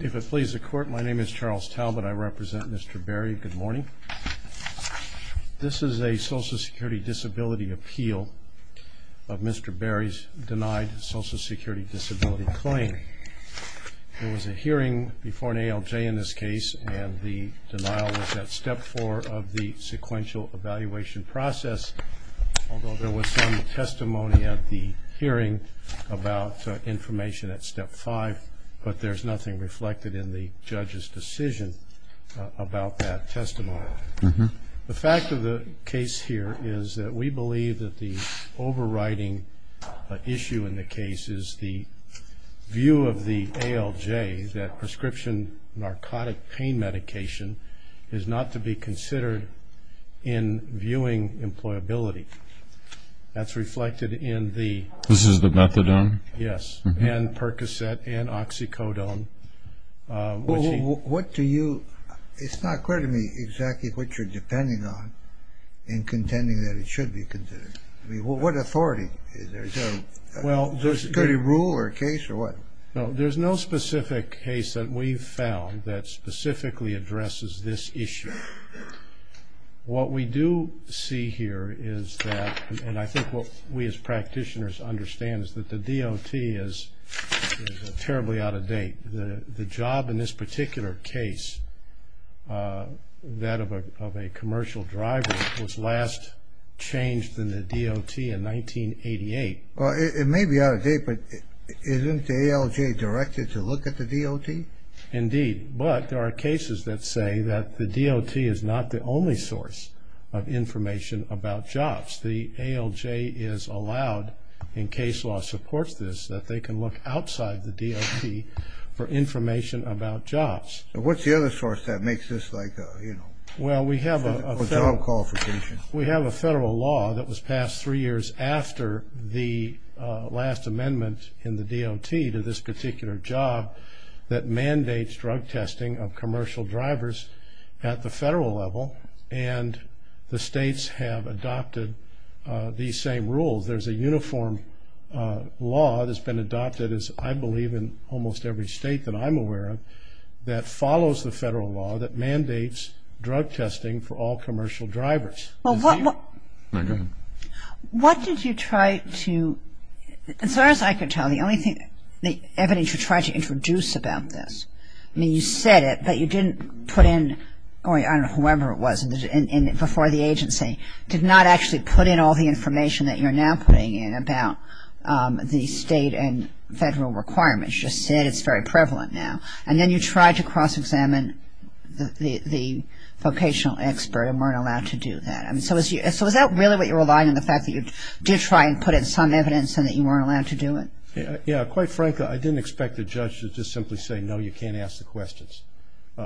If it pleases the Court, my name is Charles Talbot. I represent Mr. Berry. Good morning. This is a Social Security Disability Appeal of Mr. Berry's denied Social Security Disability claim. There was a hearing before an ALJ in this case, and the denial was at Step 4 of the sequential evaluation process, although there was some testimony at the hearing about information at Step 5, but there's nothing reflected in the judge's decision about that testimony. The fact of the case here is that we believe that the overriding issue in the case is the view of the ALJ that prescription narcotic pain medication is not to be considered in viewing employability. That's reflected in the... This is the methadone? Yes, and Percocet and Oxycodone, which he... Well, what do you... It's not clear to me exactly what you're depending on in contending that it should be considered. I mean, what authority is there? Is there a security rule or a case or what? No, there's no specific case that we've found that specifically addresses this issue. What we do see here is that, and I think what we as practitioners understand, is that the DOT is terribly out of date. The job in this particular case, that of a commercial driver, was last changed in the DOT in 1988. Well, it may be out of date, but isn't the ALJ directed to look at the DOT? Indeed, but there are cases that say that the DOT is not the only source of information about jobs. The ALJ is allowed, and case law supports this, that they can look outside the DOT for information about jobs. What's the other source that makes this like a job qualification? We have a federal law that was passed three years after the last amendment in the DOT to this particular job that mandates drug testing of commercial drivers at the federal level, and the states have adopted these same rules. There's a uniform law that's been adopted, as I believe in almost every state that I'm aware of, that follows the federal law that mandates drug testing for all commercial drivers. What did you try to, as far as I can tell, the only thing, the evidence you tried to introduce about this, I mean, you said it, but you didn't put in, I don't know, whoever it was before the agency, did not actually put in all the information that you're now putting in about the state and federal requirements. As you just said, it's very prevalent now. And then you tried to cross-examine the vocational expert and weren't allowed to do that. So is that really what you're relying on, the fact that you did try and put in some evidence and that you weren't allowed to do it? Yeah, quite frankly, I didn't expect the judge to just simply say, no, you can't ask the questions.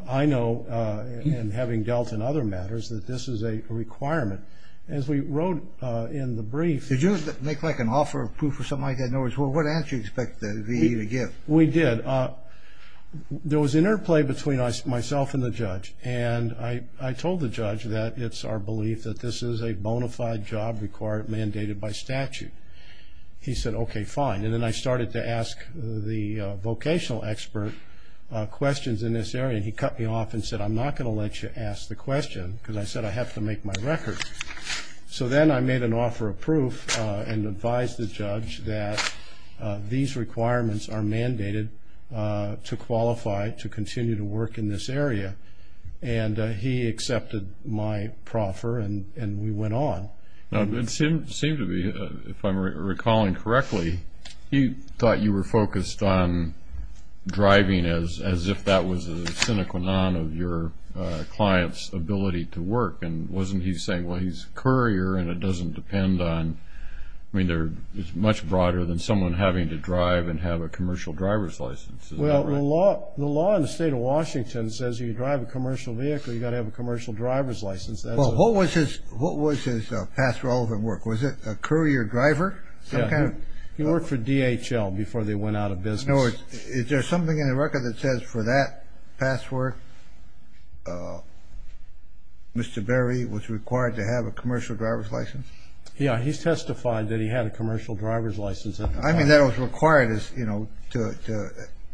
I know, and having dealt in other matters, that this is a requirement. As we wrote in the brief – Did you make like an offer of proof or something like that? In other words, what answer did you expect the VA to give? We did. There was interplay between myself and the judge, and I told the judge that it's our belief that this is a bona fide job required, mandated by statute. He said, okay, fine. And then I started to ask the vocational expert questions in this area, and he cut me off and said, I'm not going to let you ask the question, because I said I have to make my record. So then I made an offer of proof and advised the judge that these requirements are mandated to qualify to continue to work in this area. And he accepted my proffer, and we went on. It seemed to be, if I'm recalling correctly, he thought you were focused on driving as if that was a sine qua non of your client's ability to work. And wasn't he saying, well, he's a courier, and it doesn't depend on – I mean, it's much broader than someone having to drive and have a commercial driver's license. Is that right? Well, the law in the state of Washington says if you drive a commercial vehicle, you've got to have a commercial driver's license. Well, what was his past relevant work? Was it a courier driver? He worked for DHL before they went out of business. No, is there something in the record that says for that past work, Mr. Berry was required to have a commercial driver's license? Yeah, he's testified that he had a commercial driver's license. I mean, that was required as, you know,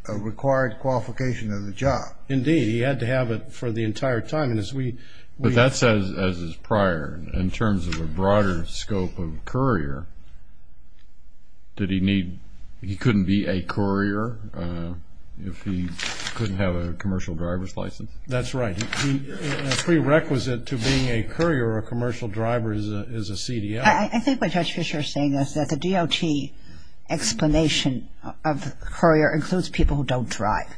a required qualification of the job. Indeed, he had to have it for the entire time. But that says, as is prior, in terms of a broader scope of courier, did he need – he couldn't be a courier if he couldn't have a commercial driver's license? That's right. A prerequisite to being a courier or a commercial driver is a CDL. I think what Judge Fischer is saying is that the DOT explanation of courier includes people who don't drive.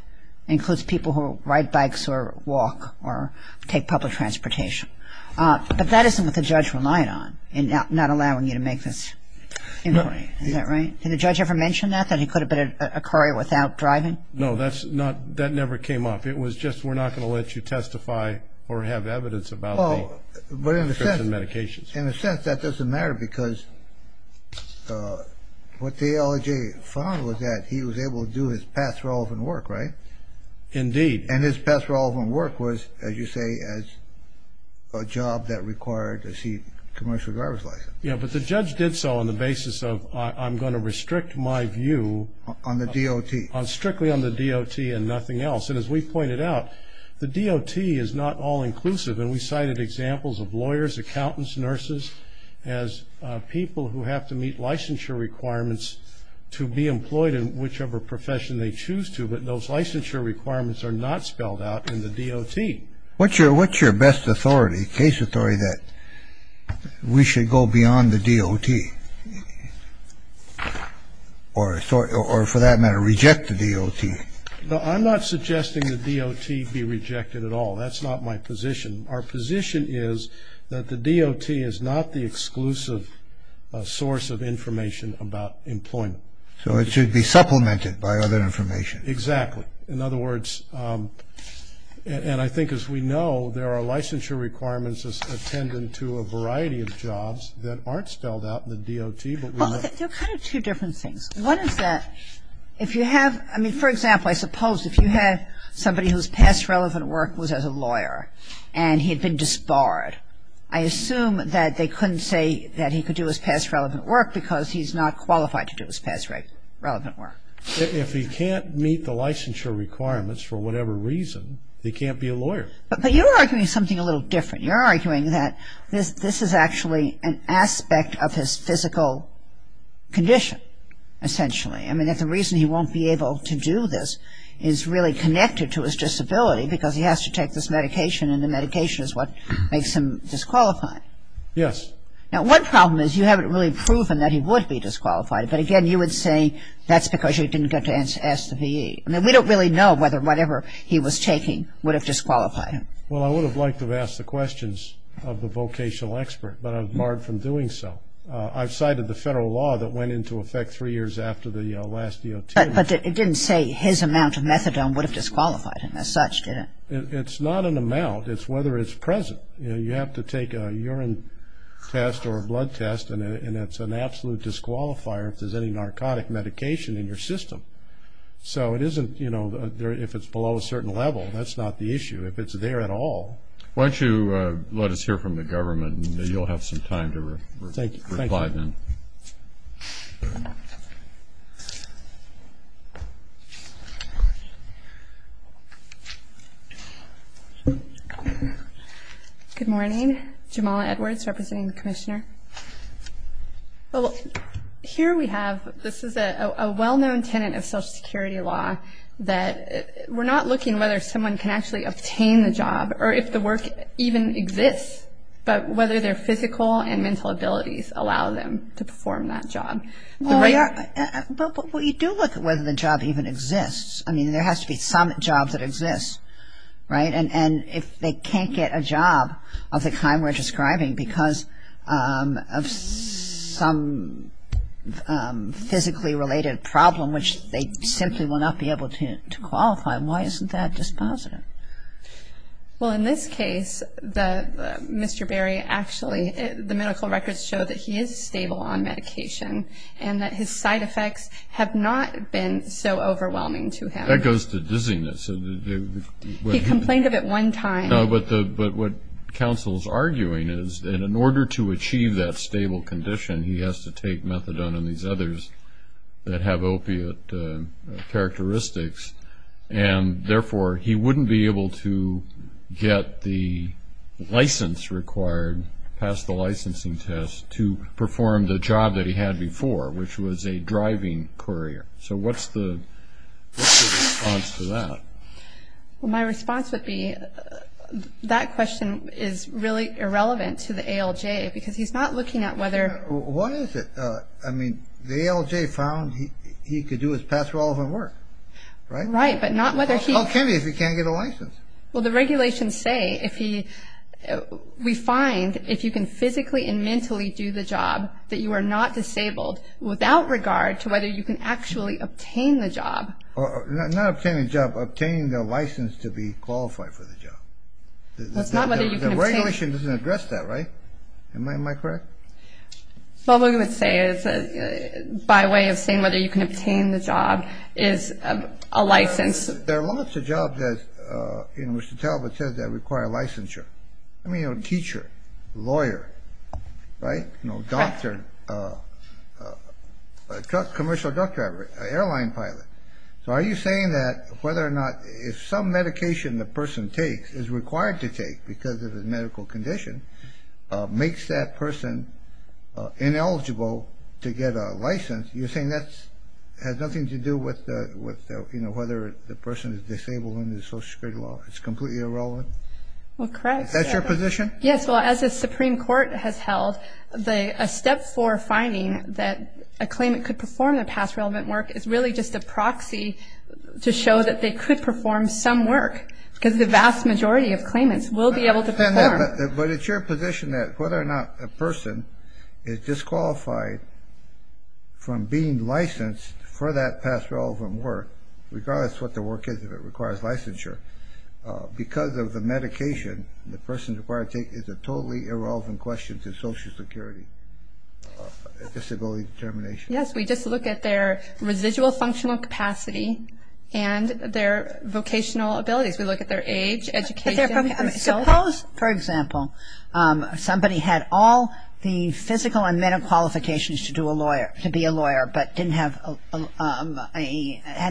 It includes people who ride bikes or walk or take public transportation. But that isn't what the judge relied on in not allowing you to make this inquiry. Is that right? Did the judge ever mention that, that he could have been a courier without driving? No, that's not – that never came up. It was just we're not going to let you testify or have evidence about the prescription medications. In a sense, that doesn't matter because what the LEJ found was that he was able to do his past relevant work, right? Indeed. Indeed. And his past relevant work was, as you say, a job that required a commercial driver's license. Yeah, but the judge did so on the basis of I'm going to restrict my view. On the DOT. Strictly on the DOT and nothing else. And as we pointed out, the DOT is not all-inclusive, and we cited examples of lawyers, accountants, nurses, as people who have to meet licensure requirements to be employed in whichever profession they choose to. But those licensure requirements are not spelled out in the DOT. What's your best authority, case authority, that we should go beyond the DOT? Or for that matter, reject the DOT? No, I'm not suggesting the DOT be rejected at all. That's not my position. Our position is that the DOT is not the exclusive source of information about employment. So it should be supplemented by other information. Exactly. In other words, and I think as we know, there are licensure requirements as attendant to a variety of jobs that aren't spelled out in the DOT. There are kind of two different things. One is that if you have, I mean, for example, I suppose if you have somebody whose past relevant work was as a lawyer and he had been disbarred, I assume that they couldn't say that he could do his past relevant work because he's not qualified to do his past relevant work. If he can't meet the licensure requirements for whatever reason, he can't be a lawyer. But you're arguing something a little different. You're arguing that this is actually an aspect of his physical condition, essentially. I mean, that the reason he won't be able to do this is really connected to his disability because he has to take this medication and the medication is what makes him disqualified. Yes. Now, one problem is you haven't really proven that he would be disqualified. But, again, you would say that's because you didn't get to ask the V.E. I mean, we don't really know whether whatever he was taking would have disqualified him. Well, I would have liked to have asked the questions of the vocational expert, but I'm barred from doing so. I've cited the federal law that went into effect three years after the last DOT. But it didn't say his amount of methadone would have disqualified him as such, did it? It's not an amount. It's whether it's present. Well, you have to take a urine test or a blood test, and it's an absolute disqualifier if there's any narcotic medication in your system. So it isn't, you know, if it's below a certain level, that's not the issue. If it's there at all. Why don't you let us hear from the government, and you'll have some time to reply then. Thank you. Good morning. Jamala Edwards, representing the commissioner. Here we have, this is a well-known tenet of Social Security law, that we're not looking whether someone can actually obtain the job or if the work even exists, but whether their physical and mental abilities allow them to perform that job. But we do look at whether the job even exists. I mean, there has to be some job that exists, right? And if they can't get a job of the kind we're describing because of some physically related problem, which they simply will not be able to qualify, why isn't that dispositive? Well, in this case, Mr. Berry actually, the medical records show that he is stable on medication, and that his side effects have not been so overwhelming to him. That goes to dizziness. He complained of it one time. No, but what counsel's arguing is that in order to achieve that stable condition, he has to take methadone and these others that have opiate characteristics, and therefore he wouldn't be able to get the license required, pass the licensing test, to perform the job that he had before, which was a driving courier. So what's the response to that? Well, my response would be that question is really irrelevant to the ALJ because he's not looking at whether — What is it? I mean, the ALJ found he could do his past relevant work, right? Right, but not whether he — How can he if he can't get a license? Well, the regulations say if he — we find if you can physically and mentally do the job, that you are not disabled without regard to whether you can actually obtain the job. Not obtain the job, obtain the license to be qualified for the job. That's not whether you can obtain — The regulation doesn't address that, right? Am I correct? Well, what we would say is that by way of saying whether you can obtain the job is a license — There are lots of jobs, as Mr. Talbot says, that require licensure. I mean, you know, teacher, lawyer, right? You know, doctor, commercial truck driver, airline pilot. So are you saying that whether or not if some medication the person takes, is required to take because of his medical condition, makes that person ineligible to get a license, you're saying that has nothing to do with whether the person is disabled under the Social Security law? It's completely irrelevant? Well, correct. Is that your position? Yes, well, as the Supreme Court has held, a step for finding that a claimant could perform a past relevant work is really just a proxy to show that they could perform some work, because the vast majority of claimants will be able to perform. But it's your position that whether or not a person is disqualified from being licensed for that past relevant work, regardless of what the work is, if it requires licensure, because of the medication the person is required to take is a totally irrelevant question to Social Security disability determination. Yes, we just look at their residual functional capacity and their vocational abilities. We look at their age, education. Suppose, for example, somebody had all the physical and mental qualifications to be a lawyer, but had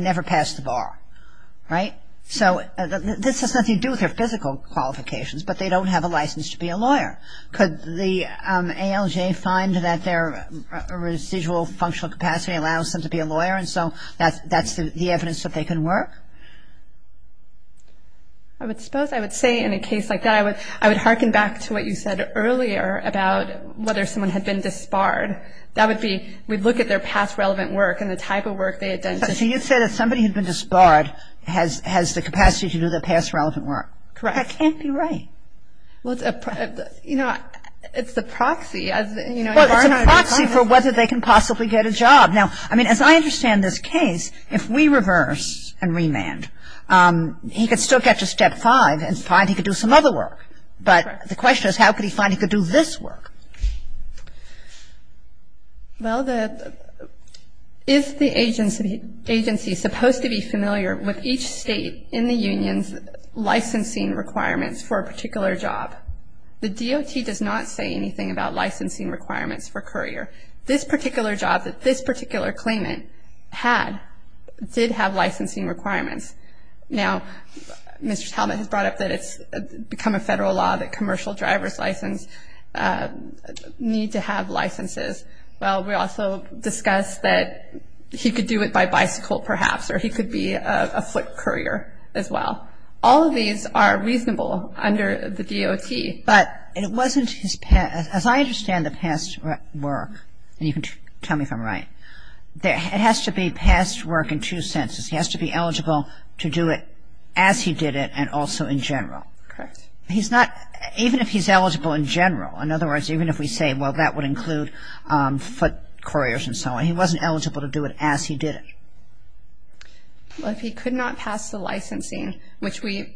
never passed the bar, right? So this has nothing to do with their physical qualifications, but they don't have a license to be a lawyer. Could the ALJ find that their residual functional capacity allows them to be a lawyer, and so that's the evidence that they can work? I would suppose, I would say in a case like that, I would hearken back to what you said earlier about whether someone had been disbarred. That would be, we'd look at their past relevant work and the type of work they had done. So you'd say that somebody who'd been disbarred has the capacity to do their past relevant work. Correct. That can't be right. Well, you know, it's the proxy. Well, it's a proxy for whether they can possibly get a job. Now, I mean, as I understand this case, if we reverse and remand, he could still get to step five and find he could do some other work. Correct. But the question is, how could he find he could do this work? Well, the, is the agency supposed to be familiar with each state in the union's licensing requirements for a particular job? The DOT does not say anything about licensing requirements for a courier. This particular job that this particular claimant had did have licensing requirements. Now, Mr. Talbot has brought up that it's become a federal law that commercial driver's license need to have licenses. Well, we also discussed that he could do it by bicycle perhaps or he could be a foot courier as well. All of these are reasonable under the DOT. But it wasn't his, as I understand the past work, and you can tell me if I'm right, it has to be past work in two senses. He has to be eligible to do it as he did it and also in general. Correct. He's not, even if he's eligible in general, in other words, even if we say, well, that would include foot couriers and so on, he wasn't eligible to do it as he did it. Well, if he could not pass the licensing, which we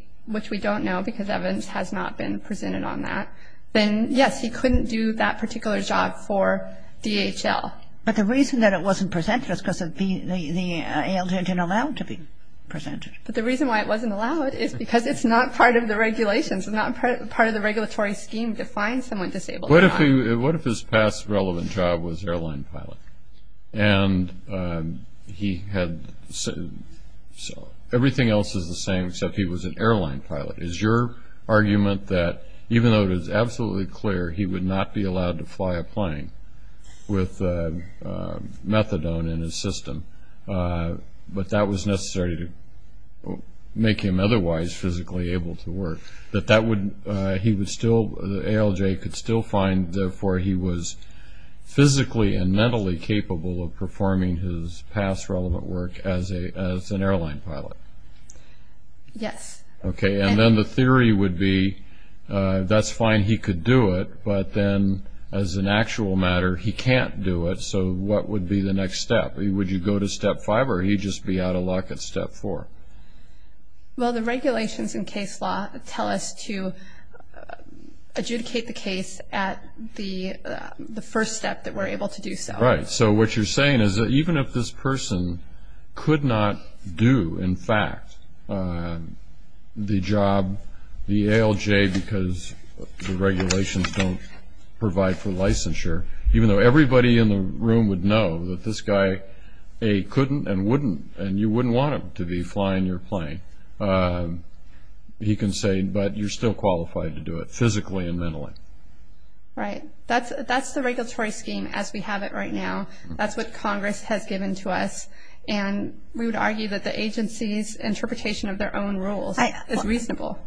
don't know because evidence has not been presented on that, then, yes, he couldn't do that particular job for DHL. But the reason that it wasn't presented is because the ALJ didn't allow it to be presented. But the reason why it wasn't allowed is because it's not part of the regulations. It's not part of the regulatory scheme to find someone disabled. What if his past relevant job was airline pilot and everything else is the same except he was an airline pilot? Is your argument that even though it is absolutely clear he would not be allowed to fly a plane with methadone in his system, but that was necessary to make him otherwise physically able to work, that that would, he would still, the ALJ could still find, therefore he was physically and mentally capable of performing his past relevant work as an airline pilot? Yes. Okay, and then the theory would be that's fine, he could do it, but then as an actual matter he can't do it, so what would be the next step? Would you go to step five or he'd just be out of luck at step four? Well, the regulations in case law tell us to adjudicate the case at the first step that we're able to do so. Right. So what you're saying is that even if this person could not do, in fact, the job, the ALJ because the regulations don't provide for licensure, even though everybody in the room would know that this guy couldn't and wouldn't and you wouldn't want him to be flying your plane, he can say, but you're still qualified to do it physically and mentally. Right. That's the regulatory scheme as we have it right now. That's what Congress has given to us, and we would argue that the agency's interpretation of their own rules is reasonable.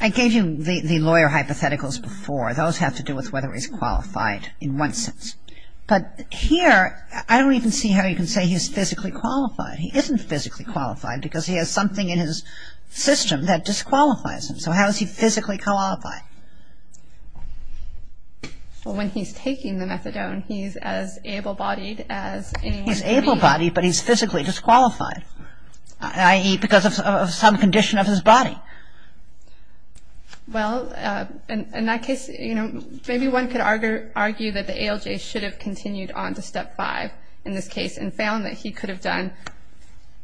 I gave you the lawyer hypotheticals before. Those have to do with whether he's qualified in one sense, but here I don't even see how you can say he's physically qualified. He isn't physically qualified because he has something in his system that disqualifies him, so how is he physically qualified? Well, when he's taking the methadone, he's as able-bodied as anyone can be. He's able-bodied, but he's physically disqualified, i.e., because of some condition of his body. Well, in that case, you know, maybe one could argue that the ALJ should have continued on to Step 5 in this case and found that he could have done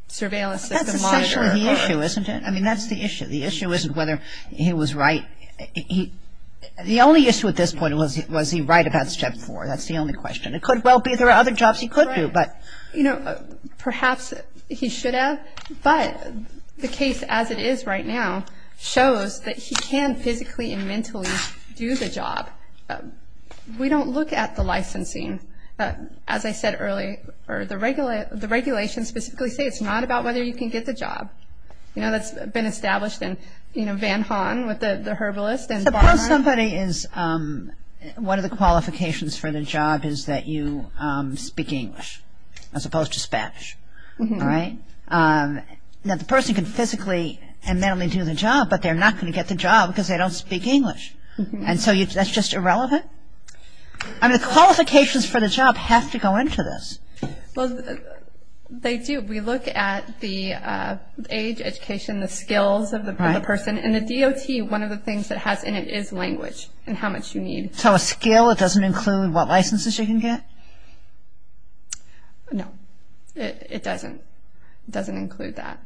surveillance of the monitor. That's essentially the issue, isn't it? I mean, that's the issue. The issue isn't whether he was right, The only issue at this point was, was he right about Step 4? That's the only question. It could well be there are other jobs he could do, but... Perhaps he should have, but the case as it is right now shows that he can physically and mentally do the job. We don't look at the licensing. As I said earlier, the regulations specifically say it's not about whether you can get the job. You know, that's been established in Van Haan with the herbalist. Suppose somebody is, one of the qualifications for the job is that you speak English, as opposed to Spanish, right? Now, the person can physically and mentally do the job, but they're not going to get the job because they don't speak English, and so that's just irrelevant? I mean, the qualifications for the job have to go into this. Well, they do. We look at the age, education, the skills of the person, and the DOT, one of the things that has in it is language and how much you need. So a skill, it doesn't include what licenses you can get? No, it doesn't. It doesn't include that.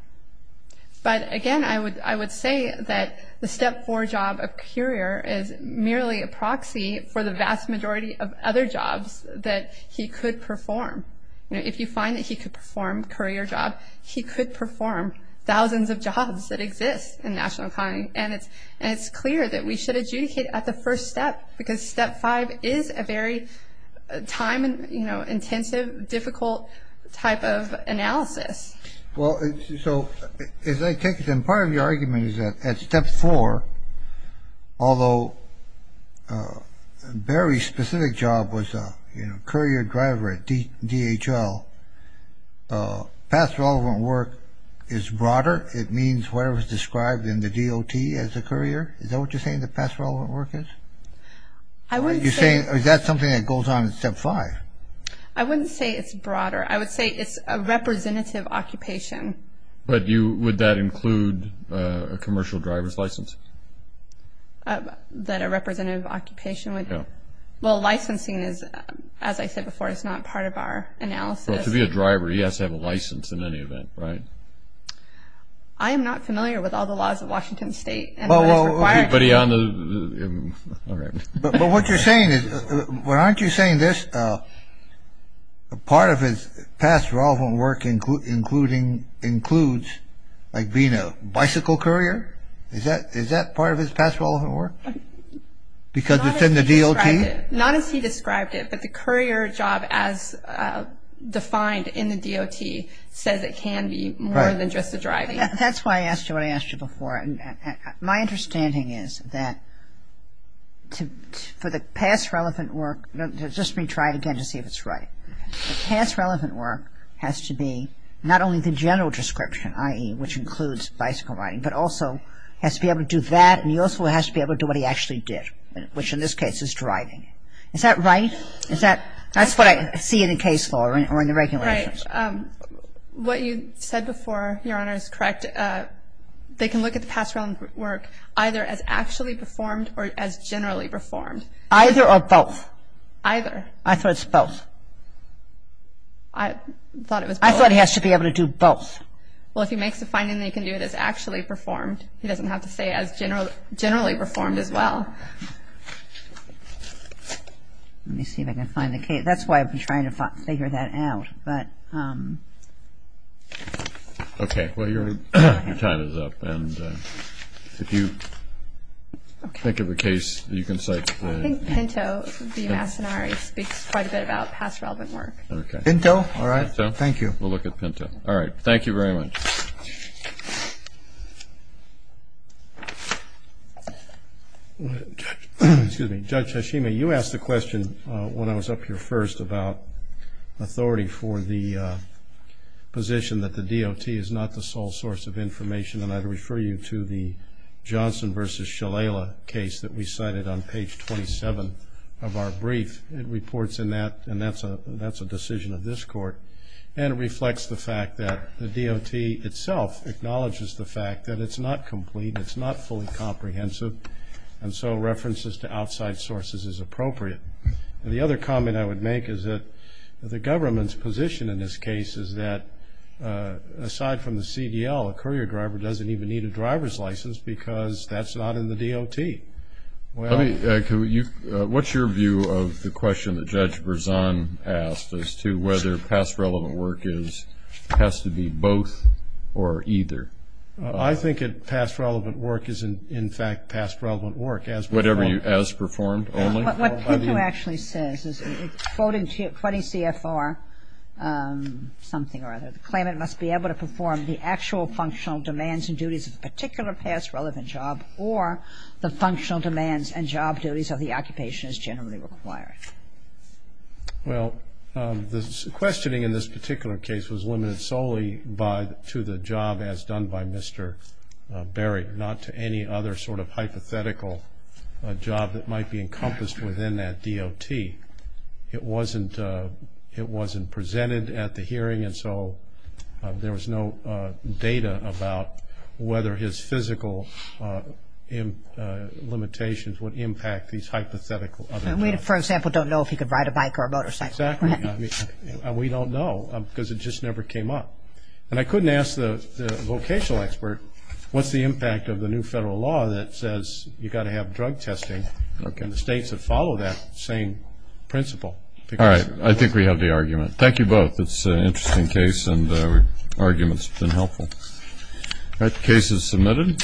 But again, I would say that the Step 4 job of courier is merely a proxy for the vast majority of other jobs that he could perform. If you find that he could perform a courier job, he could perform thousands of jobs that exist in the national economy, and it's clear that we should adjudicate at the first step because Step 5 is a very time-intensive, difficult type of analysis. Well, so as I take it, then part of the argument is that at Step 4, although Barry's specific job was a courier driver at DHL, past relevant work is broader. It means whatever is described in the DOT as a courier. Is that what you're saying, that past relevant work is? I wouldn't say. Is that something that goes on at Step 5? I wouldn't say it's broader. I would say it's a representative occupation. But would that include a commercial driver's license? That a representative occupation would? Yeah. Well, licensing is, as I said before, is not part of our analysis. Well, to be a driver, he has to have a license in any event, right? I am not familiar with all the laws of Washington State. Well, what you're saying is, well, aren't you saying this, part of his past relevant work includes like being a bicycle courier? Is that part of his past relevant work? Because it's in the DOT? Not as he described it, but the courier job as defined in the DOT says it can be more than just the driving. That's why I asked you what I asked you before. My understanding is that for the past relevant work, just let me try it again to see if it's right. The past relevant work has to be not only the general description, i.e., which includes bicycle riding, but also has to be able to do that and he also has to be able to do what he actually did, which in this case is driving. Is that right? That's what I see in the case law or in the regulations. Right. What you said before, Your Honor, is correct. And they can look at the past relevant work either as actually performed or as generally performed. Either or both? Either. I thought it was both. I thought it was both. I thought he has to be able to do both. Well, if he makes a finding that he can do it as actually performed, he doesn't have to say as generally performed as well. Let me see if I can find the case. That's why I've been trying to figure that out. Okay. Well, your time is up. And if you think of a case, you can cite it. I think Pinto v. Massonari speaks quite a bit about past relevant work. Pinto? All right. Thank you. We'll look at Pinto. All right. Thank you very much. Excuse me. Judge Hashime, you asked the question when I was up here first about authority for the position that the DOT is not the sole source of information, and I'd refer you to the Johnson v. Shalala case that we cited on page 27 of our brief. It reports in that, and that's a decision of this Court, and it reflects the fact that the DOT itself acknowledges the fact that it's not complete, it's not fully comprehensive, and so references to outside sources is appropriate. The other comment I would make is that the government's position in this case is that, aside from the CDL, a courier driver doesn't even need a driver's license because that's not in the DOT. What's your view of the question that Judge Berzon asked as to whether past relevant work has to be both or either? I think that past relevant work is, in fact, past relevant work as performed. Whatever you, as performed only? What Pinto actually says is, quoting CFR something or other, the claimant must be able to perform the actual functional demands and duties of a particular past relevant job or the functional demands and job duties of the occupation as generally required. Well, the questioning in this particular case was limited solely to the job as done by Mr. Berry, not to any other sort of hypothetical job that might be encompassed within that DOT. It wasn't presented at the hearing, and so there was no data about whether his physical limitations would impact these hypothetical other jobs. We, for example, don't know if he could ride a bike or a motorcycle. Exactly. We don't know because it just never came up. And I couldn't ask the vocational expert, what's the impact of the new federal law that says you've got to have drug testing and the states that follow that same principle? All right. I think we have the argument. Thank you both. It's an interesting case and arguments have been helpful. All right. The case is submitted.